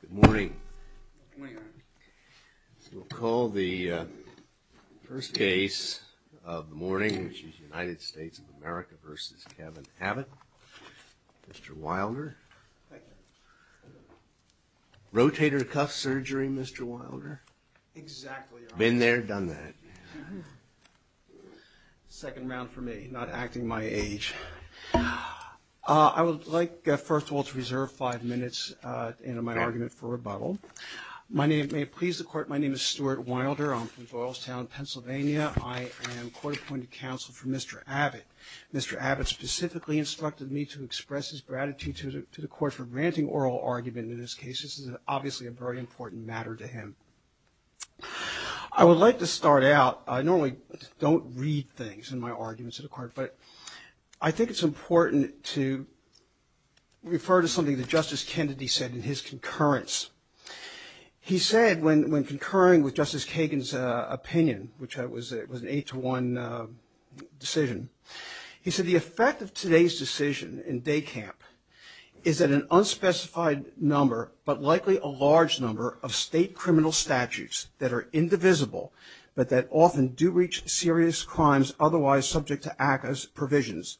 Good morning. We'll call the first case of the morning, which is United States of America versus Kevin Abbott. Mr. Wilder. Rotator cuff surgery, Mr. Wilder. Been there, done that. Second round for me, not acting my age. I would like, first of all, to reserve five minutes into my argument for rebuttal. My name may please the court. My name is Stuart Wilder. I'm from Doylestown, Pennsylvania. I am court-appointed counsel for Mr. Abbott. Mr. Abbott specifically instructed me to express his gratitude to the court for granting oral argument in this case. This is obviously a very important matter to him. I would like to start out, I normally don't read things in my arguments to the court, but I think it's important to refer to something that Justice Kennedy said in his concurrence. He said, when concurring with Justice Kagan's opinion, which was an eight-to-one decision, he said, the effect of today's decision in DECAMP is that an unspecified number, but likely a large number of state criminal statutes that are indivisible, but that often do reach serious crimes otherwise subject to ACCA's provisions,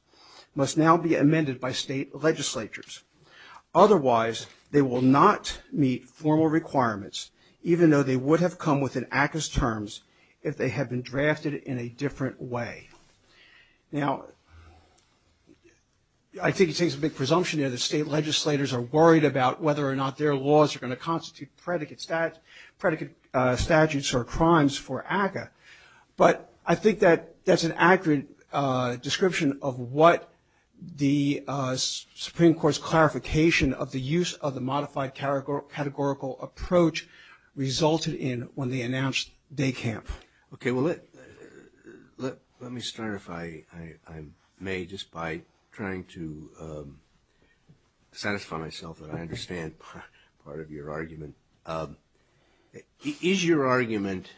must now be amended by state legislatures. Otherwise, they will not meet formal requirements, even though they would have come within ACCA's terms if they had been drafted in a different way. Now, I think he's saying it's a big presumption there that state legislators are worried about whether or not their laws are going to constitute predicate statutes or crimes for ACCA, but I think that that's an accurate description of what the Supreme Court's clarification of the use of the modified categorical approach resulted in when they announced DECAMP. Okay, well, let me start, if I may, just by trying to satisfy myself that I understand part of your argument. Is your argument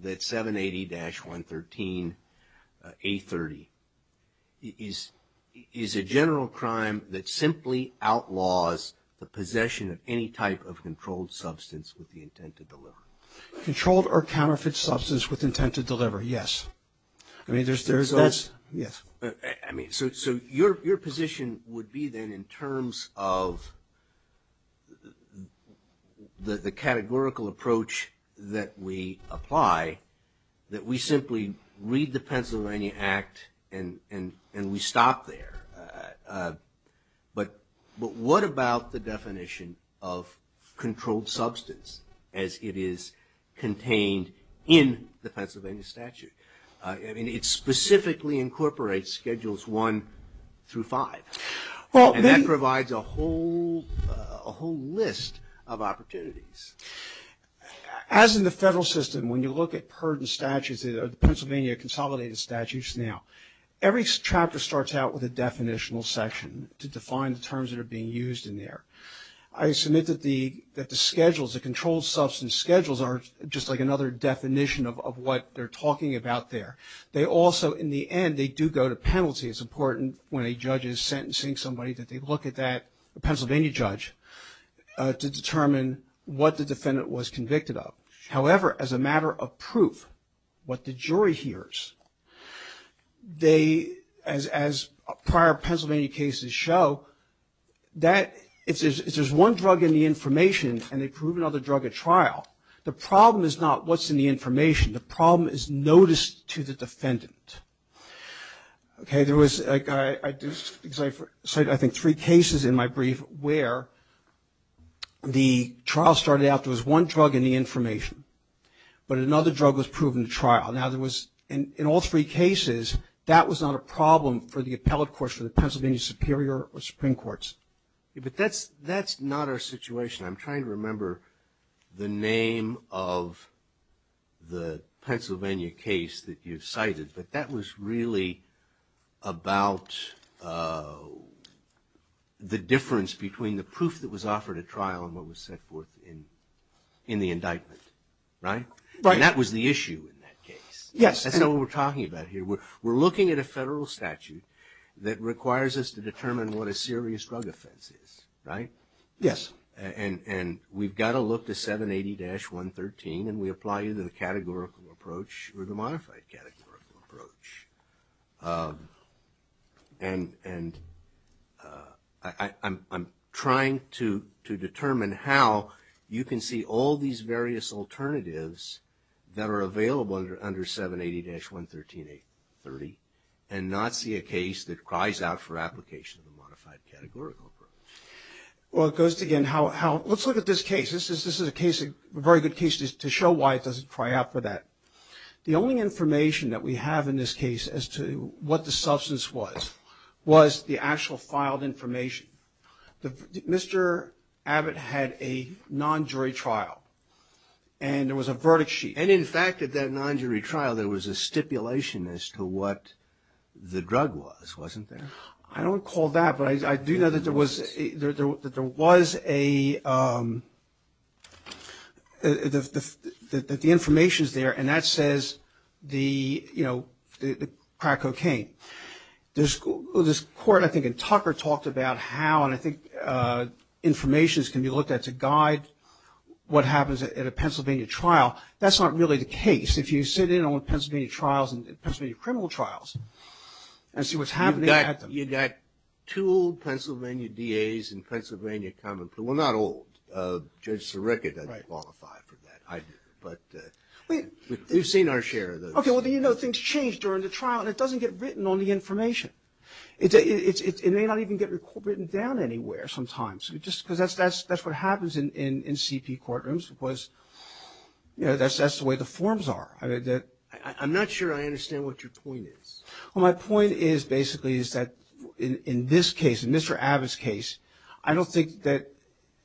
that 780-113A30 is a general crime that simply outlaws the possession of any type of controlled substance with the intent to deliver? Controlled or counterfeit substance with intent to deliver, yes. I mean, there's that's, yes. I mean, so your position would be then in terms of the categorical approach that we apply, that we simply read the Pennsylvania Act and we stop there. But what about the definition of controlled substance as it is contained in the Pennsylvania statute? I mean, it specifically incorporates Schedules I through V, and that provides a whole list of opportunities. As in the federal system, when you look at PERD and statutes, the Pennsylvania Consolidated Statutes now, every chapter starts out with a definitional section to define the terms that are being used in there. I submit that the schedules, the controlled substance schedules are just like another definition of what they're talking about there. They also, in the end, they do go to penalty. It's important when a judge is sentencing somebody that they look at that Pennsylvania judge to determine what the defendant was convicted of. However, as a matter of proof, what the jury hears, as prior Pennsylvania cases show, if there's one drug in the information and they prove another drug at trial, the problem is not what's in the information. The problem is notice to the defendant. Okay, there was, I cite, I think, three cases in my brief where the trial started out, there was one drug in the information, but another drug was proven at trial. Now, there was, in all three cases, that was not a problem for the appellate courts, for the Pennsylvania Superior or Supreme Courts. But that's not our situation. I'm trying to remember the name of the Pennsylvania case that you've cited, but that was really about the difference between the proof that was offered at trial and what was set forth in the indictment, right? Right. And that was the issue in that case. Yes. That's not what we're talking about here. We're looking at a federal statute that requires us to determine what a serious drug offense is, right? Yes. And we've got to look to 780-113 and we apply either the categorical approach or the modified categorical approach. And I'm trying to determine how you can see all these various alternatives that are available under 780-113-830 and not see a case that cries out for application of the modified categorical approach. Well, it goes to, again, how, let's look at this case. This is a case, a very good case to show why it doesn't cry out for that. The only information that we have in this case as to what the substance was, was the actual filed information. Mr. Abbott had a non-jury trial and there was a verdict sheet. And, in fact, at that non-jury trial, there was a stipulation as to what the drug was, wasn't there? I don't recall that, but I do know that there was a, that the information's there and that says the, you know, the crack cocaine. This court, I think, in Tucker talked about how, and I think information can be looked at to guide what happens at a Pennsylvania trial. That's not really the case. If you sit in on Pennsylvania trials and Pennsylvania criminal trials and see what's happening at them. You've got two old Pennsylvania DAs and Pennsylvania common, well, not old. Judge Sirica doesn't qualify for that. I do, but we've seen our share of those. Okay, well, then you know things change during the trial and it doesn't get written on the information. It may not even get written down anywhere sometimes. Just because that's what happens in CP courtrooms because, you know, that's the way the forms are. I'm not sure I understand what your point is. Well, my point is basically is that in this case, in Mr. Abbott's case, I don't think that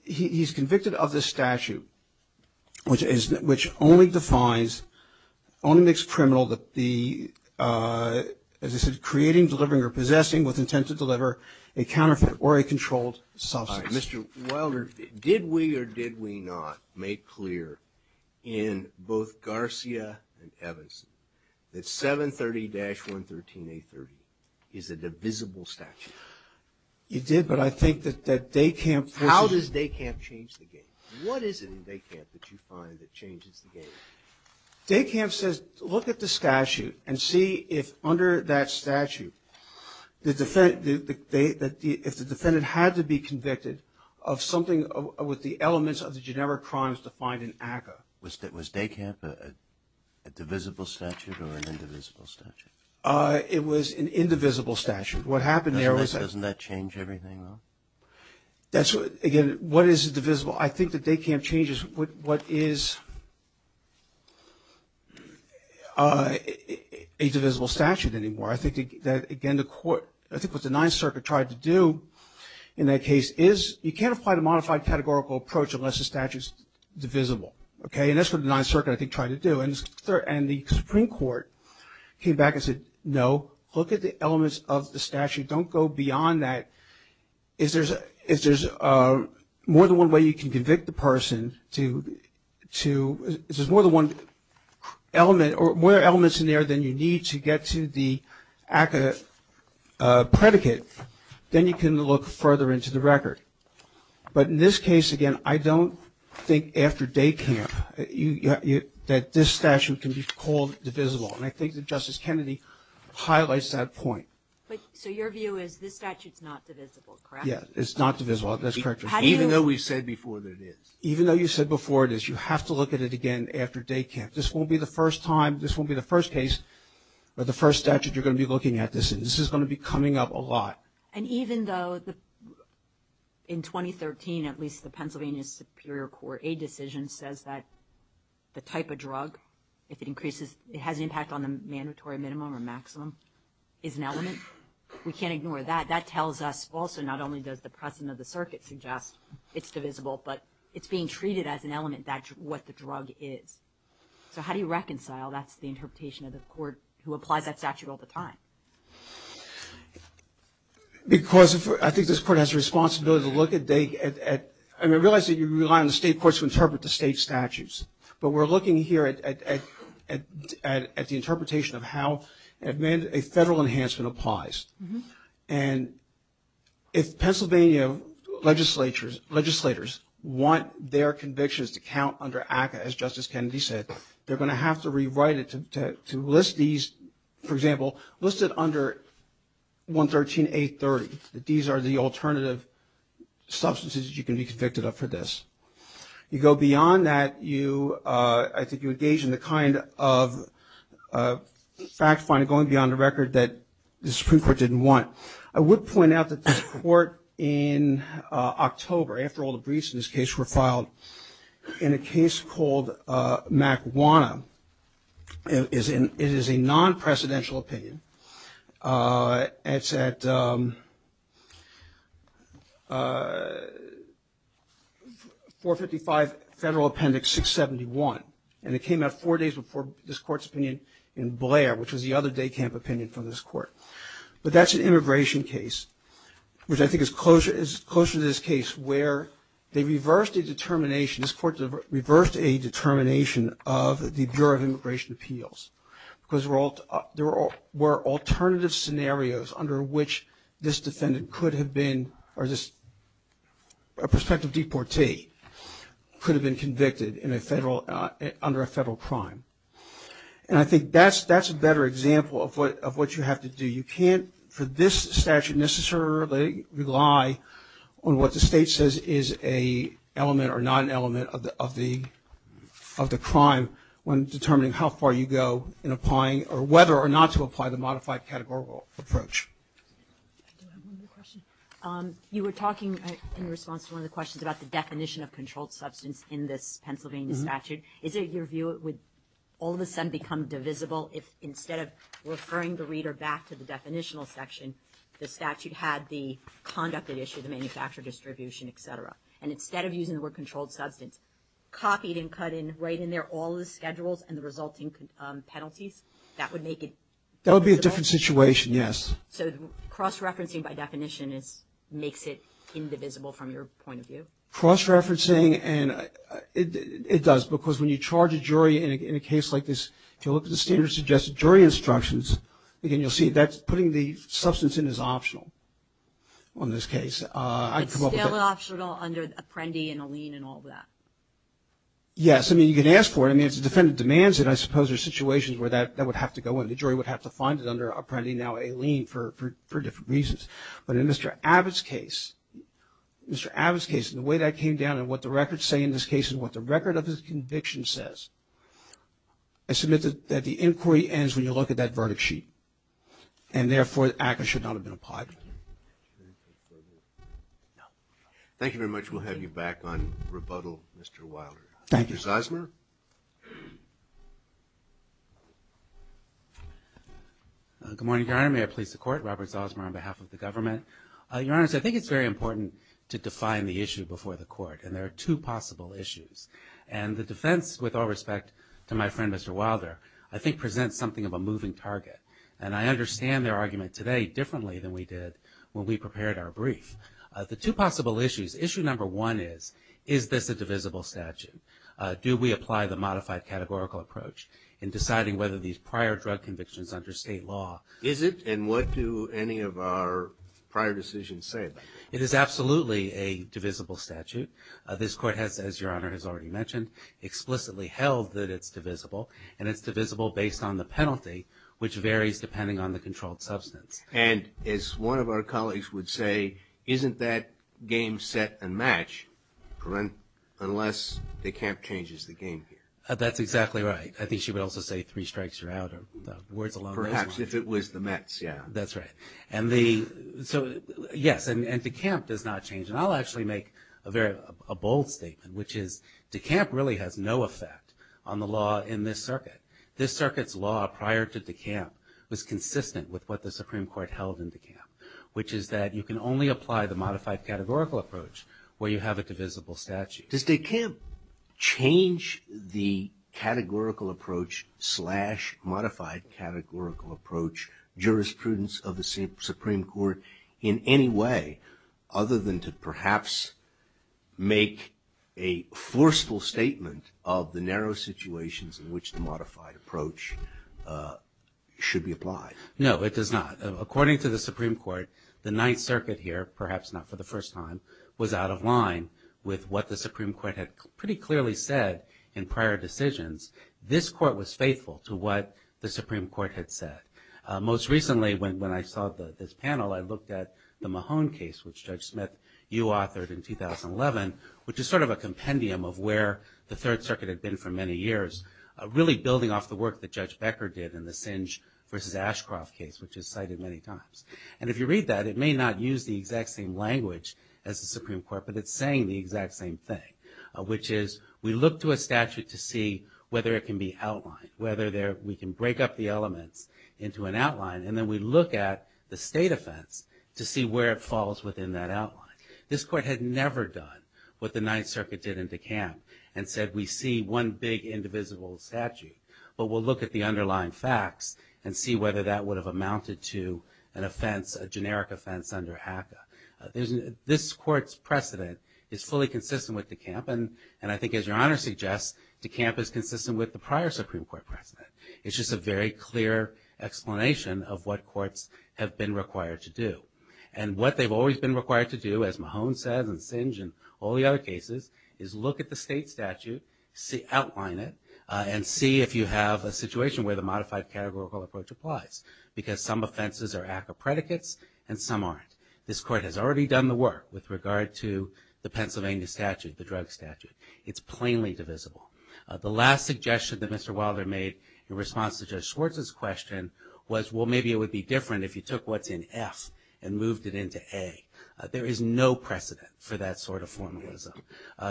he's convicted of this statute, which only defines, only makes criminal the, as I said, creating, delivering, or possessing with intent to deliver a counterfeit or a controlled substance. All right, Mr. Wilder, did we or did we not make clear in both Garcia and Evans that 730-113-A30 is a divisible statute? You did, but I think that that DECAMP. How does DECAMP change the game? What is it in DECAMP that you find that changes the game? DECAMP says look at the statute and see if under that statute, if the defendant had to be convicted of something with the elements of the generic crimes defined in ACCA. Was DECAMP a divisible statute or an indivisible statute? It was an indivisible statute. What happened there was that. Doesn't that change everything, though? That's what, again, what is divisible? Well, I think that DECAMP changes what is a divisible statute anymore. I think that, again, the court, I think what the Ninth Circuit tried to do in that case is you can't apply the modified categorical approach unless the statute's divisible, okay? And that's what the Ninth Circuit, I think, tried to do. And the Supreme Court came back and said, no, look at the elements of the statute. Don't go beyond that. If there's more than one way you can convict the person to, if there's more than one element or more elements in there than you need to get to the ACCA predicate, then you can look further into the record. But in this case, again, I don't think after DECAMP that this statute can be called divisible. And I think that Justice Kennedy highlights that point. So your view is this statute's not divisible, correct? Yeah, it's not divisible. That's correct, Your Honor. Even though we've said before that it is. Even though you've said before it is, you have to look at it again after DECAMP. This won't be the first time, this won't be the first case or the first statute you're going to be looking at this in. This is going to be coming up a lot. And even though in 2013, at least the Pennsylvania Superior Court, a decision says that the type of drug, if it increases, it has an impact on the mandatory minimum or maximum, is an element. We can't ignore that. That tells us also not only does the precedent of the circuit suggest it's divisible, but it's being treated as an element, what the drug is. So how do you reconcile? That's the interpretation of the court who applies that statute all the time. Because I think this court has a responsibility to look at, I realize that you rely on the state courts to interpret the state statutes. But we're looking here at the interpretation of how a federal enhancement applies. And if Pennsylvania legislators want their convictions to count under ACCA, as Justice Kennedy said, they're going to have to rewrite it to list these, for example, listed under 113.830. These are the alternative substances you can be convicted of for this. You go beyond that, I think you engage in the kind of fact-finding going beyond the record that the Supreme Court didn't want. I would point out that this court in October, after all the briefs in this case were filed, in a case called Macuana. It is a non-presidential opinion. It's at 455 Federal Appendix 671. And it came out four days before this court's opinion in Blair, which was the other day camp opinion from this court. But that's an immigration case, which I think is closer to this case, where they reversed a determination, this court reversed a determination of the Bureau of Immigration Appeals. Because there were alternative scenarios under which this defendant could have been, or this prospective deportee, could have been convicted under a federal crime. And I think that's a better example of what you have to do. You can't, for this statute, necessarily rely on what the state says is an element or not an element of the crime when determining how far you go in applying, or whether or not to apply the modified categorical approach. You were talking in response to one of the questions about the definition of controlled substance in this Pennsylvania statute. Is it your view it would all of a sudden become divisible if, instead of referring the reader back to the definitional section, the statute had the conduct at issue, the manufacturer distribution, et cetera. And instead of using the word controlled substance, copied and cut right in there all the schedules and the resulting penalties? That would make it divisible? That would be a different situation, yes. So cross-referencing by definition makes it indivisible from your point of view? Cross-referencing, and it does, because when you charge a jury in a case like this, if you look at the standard suggested jury instructions, again, you'll see that's putting the substance in as optional on this case. It's still optional under Apprendi and Aleene and all of that? Yes, I mean, you can ask for it. I mean, it's a defendant demands it. I suppose there's situations where that would have to go in. The jury would have to find it under Apprendi, now Aleene, for different reasons. But in Mr. Abbott's case, Mr. Abbott's case, the way that came down and what the records say in this case and what the record of his conviction says, I submit that the inquiry ends when you look at that verdict sheet. And therefore, the act should not have been applied. Thank you very much. We'll have you back on rebuttal, Mr. Wilder. Thank you. Good morning, Your Honor. May I please the Court? Robert Zalzmer on behalf of the government. Your Honor, I think it's very important to define the issue before the Court. And there are two possible issues. And the defense, with all respect to my friend, Mr. Wilder, I think presents something of a moving target. And I understand their argument today differently than we did when we prepared our brief. The two possible issues, issue number one is, is this a divisible statute? Do we apply the modified categorical approach in deciding whether these prior drug convictions under state law? Is it? And what do any of our prior decisions say about it? It is absolutely a divisible statute. This Court has, as Your Honor has already mentioned, explicitly held that it's divisible. And it's divisible based on the penalty, which varies depending on the controlled substance. And as one of our colleagues would say, isn't that game set and match, unless the camp changes the game here? That's exactly right. I think she would also say three strikes, you're out. Perhaps if it was the Mets, yeah. That's right. And the, so yes, and the camp does not change. And I'll actually make a very, a bold statement, which is, the camp really has no effect on the law in this circuit. This circuit's law prior to the camp was consistent with what the Supreme Court held in the camp, which is that you can only apply the modified categorical approach where you have a divisible statute. Does the camp change the categorical approach slash modified categorical approach jurisprudence of the Supreme Court in any way other than to perhaps make a forceful statement of the narrow situations in which the modified approach should be applied? No, it does not. According to the Supreme Court, the Ninth Circuit here, perhaps not for the first time, was out of line with what the Supreme Court had pretty clearly said in prior decisions. This court was faithful to what the Supreme Court had said. Most recently, when I saw this panel, I looked at the Mahone case, which Judge Smith, you authored in 2011, which is sort of a compendium of where the Third Circuit had been for many years, really building off the work that Judge Becker did in the Singe versus Ashcroft case, which is cited many times. And if you read that, it may not use the exact same language as the Supreme Court, but it's saying the exact same thing, which is we look to a statute to see whether it can be outlined, whether we can break up the elements into an outline, and then we look at the state offense to see where it falls within that outline. This court had never done what the Ninth Circuit did in the camp and said we see one big indivisible statute, but we'll look at the underlying facts and see whether that would have amounted to an offense, a generic offense under HACA. This court's precedent is fully consistent with the camp, and I think as Your Honor suggests, the camp is consistent with the prior Supreme Court precedent. It's just a very clear explanation of what courts have been required to do. And what they've always been required to do, as Mahone says and Singe and all the other cases, is look at the state statute, outline it, and see if you have a situation where the modified categorical approach applies, because some offenses are HACA predicates and some aren't. This court has already done the work with regard to the Pennsylvania statute, the drug statute. It's plainly divisible. The last suggestion that Mr. Wilder made in response to Judge Schwartz's question was, well, maybe it would be different if you took what's in F and moved it into A. There is no precedent for that sort of formalism.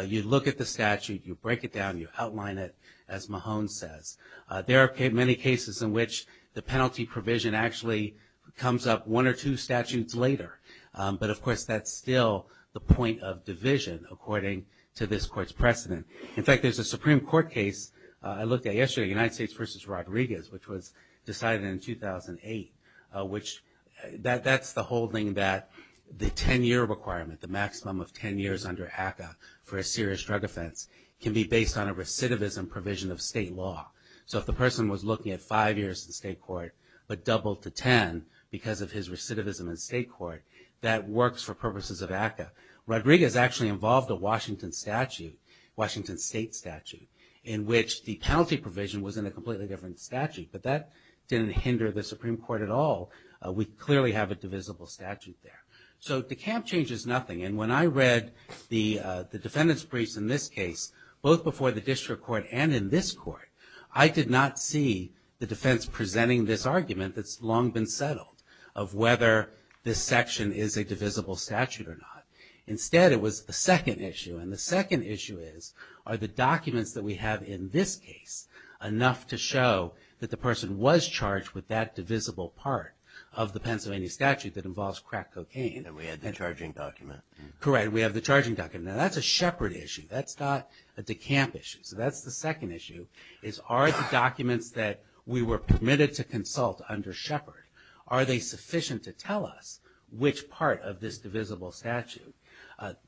You look at the statute, you break it down, you outline it, as Mahone says. There are many cases in which the penalty provision actually comes up one or two statutes later. But of course, that's still the point of division, according to this court's precedent. In fact, there's a Supreme Court case I looked at yesterday, United States v. Rodriguez, which was decided in 2008, which that's the whole thing that the 10-year requirement, the maximum of 10 years under HACA for a serious drug offense, can be based on a recidivism provision of state law. If the person was looking at five years in state court, but doubled to 10 because of his recidivism in state court, that works for purposes of HACA. Rodriguez actually involved a Washington statute, Washington state statute, in which the penalty provision was in a completely different statute. But that didn't hinder the Supreme Court at all. We clearly have a divisible statute there. So the camp change is nothing. And when I read the defendant's briefs in this case, both before the district court and in this court, I did not see the defense presenting this argument that's long been settled of whether this section is a divisible statute or not. Instead, it was a second issue. And the second issue is, are the documents that we have in this case enough to show that the person was charged with that divisible part of the Pennsylvania statute that involves crack cocaine? And we had the charging document. Correct. We have the charging document. Now that's a shepherd issue. That's not a decamp issue. So that's the second issue. Are the documents that we were permitted to consult under shepherd, are they sufficient to tell us which part of this divisible statute?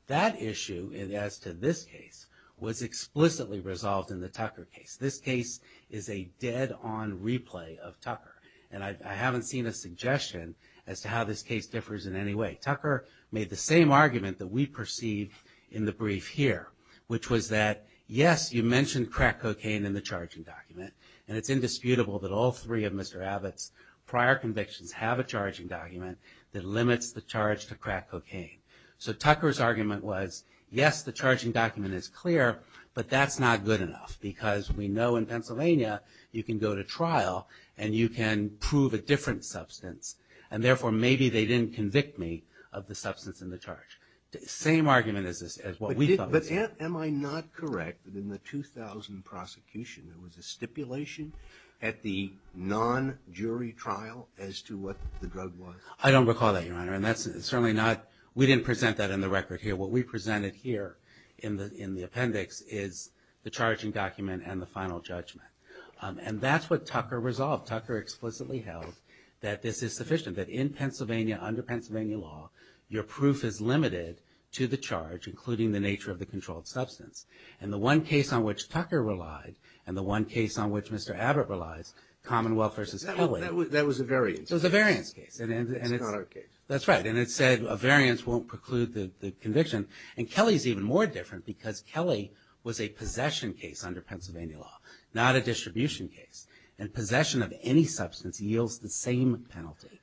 That issue, as to this case, was explicitly resolved in the Tucker case. This case is a dead-on replay of Tucker. And I haven't seen a suggestion as to how this case differs in any way. Tucker made the same argument that we perceived in the brief here, which was that, yes, you mentioned crack cocaine in the charging document. And it's indisputable that all three of Mr. Abbott's prior convictions have a charging document that limits the charge to crack cocaine. So Tucker's argument was, yes, the charging document is clear, but that's not good enough. Because we know in Pennsylvania, you can go to trial and you can prove a different substance. And therefore, maybe they didn't convict me of the substance in the charge. Same argument as what we thought. Am I not correct that in the 2000 prosecution, there was a stipulation at the non-jury trial as to what the drug was? I don't recall that, Your Honor. And that's certainly not, we didn't present that in the record here. What we presented here in the appendix is the charging document and the final judgment. And that's what Tucker resolved. Tucker explicitly held that this is sufficient, that in Pennsylvania, under Pennsylvania law, your proof is limited to the charge, including the nature of the controlled substance. And the one case on which Tucker relied, and the one case on which Mr. Abbott relies, Commonwealth v. Kelly. That was a variance. It was a variance case. It's not our case. That's right. And it said a variance won't preclude the conviction. And Kelly's even more different, because Kelly was a possession case under Pennsylvania law, not a distribution case. And possession of any substance yields the same penalty.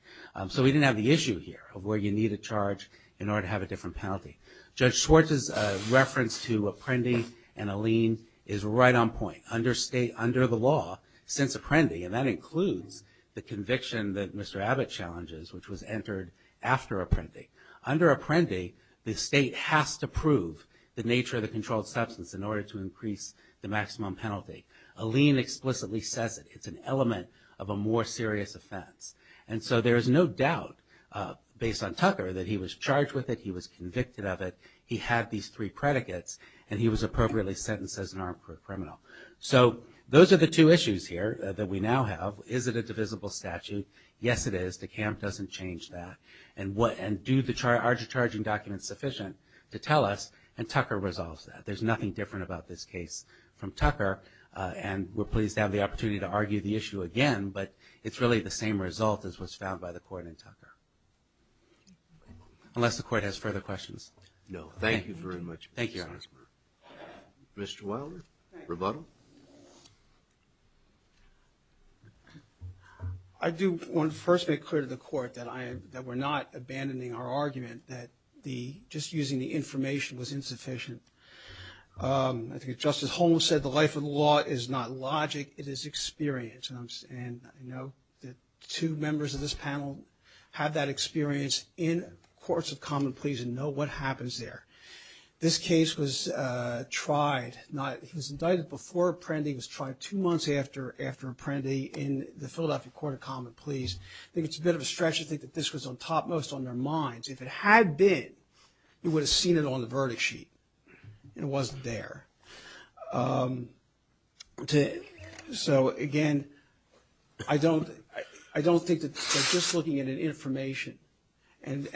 So we didn't have the issue here of where you need a charge in order to have a different penalty. Judge Schwartz's reference to Apprendi and Allene is right on point. Under state, under the law, since Apprendi, and that includes the conviction that Mr. Abbott challenges, which was entered after Apprendi. Under Apprendi, the state has to prove the nature of the controlled substance in order to increase the maximum penalty. Allene explicitly says it. It's an element of a more serious offense. And so there is no doubt, based on Tucker, that he was charged with it. He was convicted of it. He had these three predicates. And he was appropriately sentenced as an armed criminal. So those are the two issues here that we now have. Is it a divisible statute? Yes, it is. DeKalb doesn't change that. And do the charging documents sufficient to tell us? And Tucker resolves that. There's nothing different about this case from Tucker. And we're pleased to have the opportunity to argue the issue again. But it's really the same result as what's found by the court in Tucker. Unless the court has further questions. No. Thank you very much. Thank you, Your Honor. Mr. Wilder, rebuttal? I do want to first make clear to the court that we're not abandoning our argument that just using the information was insufficient. I think Justice Holmes said the life of the law is not logic, it is experience. And I know that two members of this panel have that experience in courts of common pleas and know what happens there. This case was tried. He was indicted before Apprendi. He was tried two months after Apprendi in the Philadelphia Court of Common Pleas. I think it's a bit of a stretch to think that this was on top most on their minds. If it had been, you would have seen it on the verdict sheet. It wasn't there. So, again, I don't think that just looking at an information and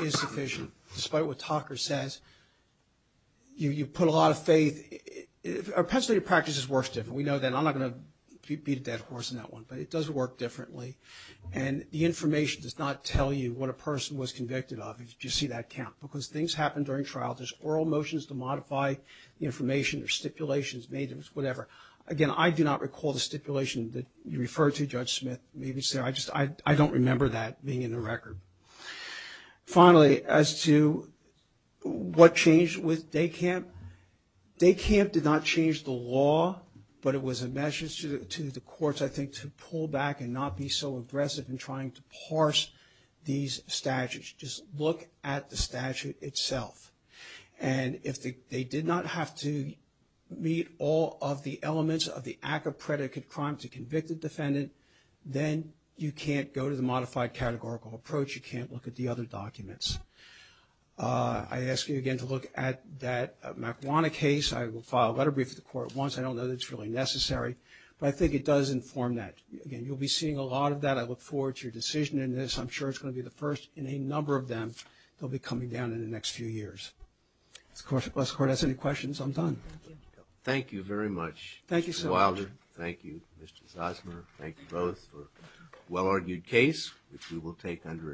insufficient, despite what Tucker says, you put a lot of faith. Our penitentiary practice works different. We know that. I'm not going to beat a dead horse in that one, but it does work differently. And the information does not tell you what a person was convicted of, if you see that count, because things happen during trial. There's oral motions to modify the information. There's stipulations made, whatever. Again, I do not recall the stipulation that you referred to, Judge Smith. Maybe, sir, I don't remember that being in the record. Finally, as to what changed with Day Camp, Day Camp did not change the law, but it was a message to the courts, I think, to pull back and not be so aggressive in trying to parse these statutes. Just look at the statute itself. And if they did not have to meet all of the elements of the act of predicate crime to convict a defendant, then you can't go to the modified categorical approach. You can't look at the other documents. I ask you, again, to look at that Makwana case. I will file a letter brief to the court once. I don't know that it's really necessary, but I think it does inform that. Again, you'll be seeing a lot of that. I look forward to your decision in this. I'm sure it's going to be the first in a number of them that will be coming down in the next few years. If the court has any questions, I'm done. Thank you. Thank you very much, Mr. Wilder. Thank you, Mr. Zosmer. Thank you both for a well-argued case, which we will take under a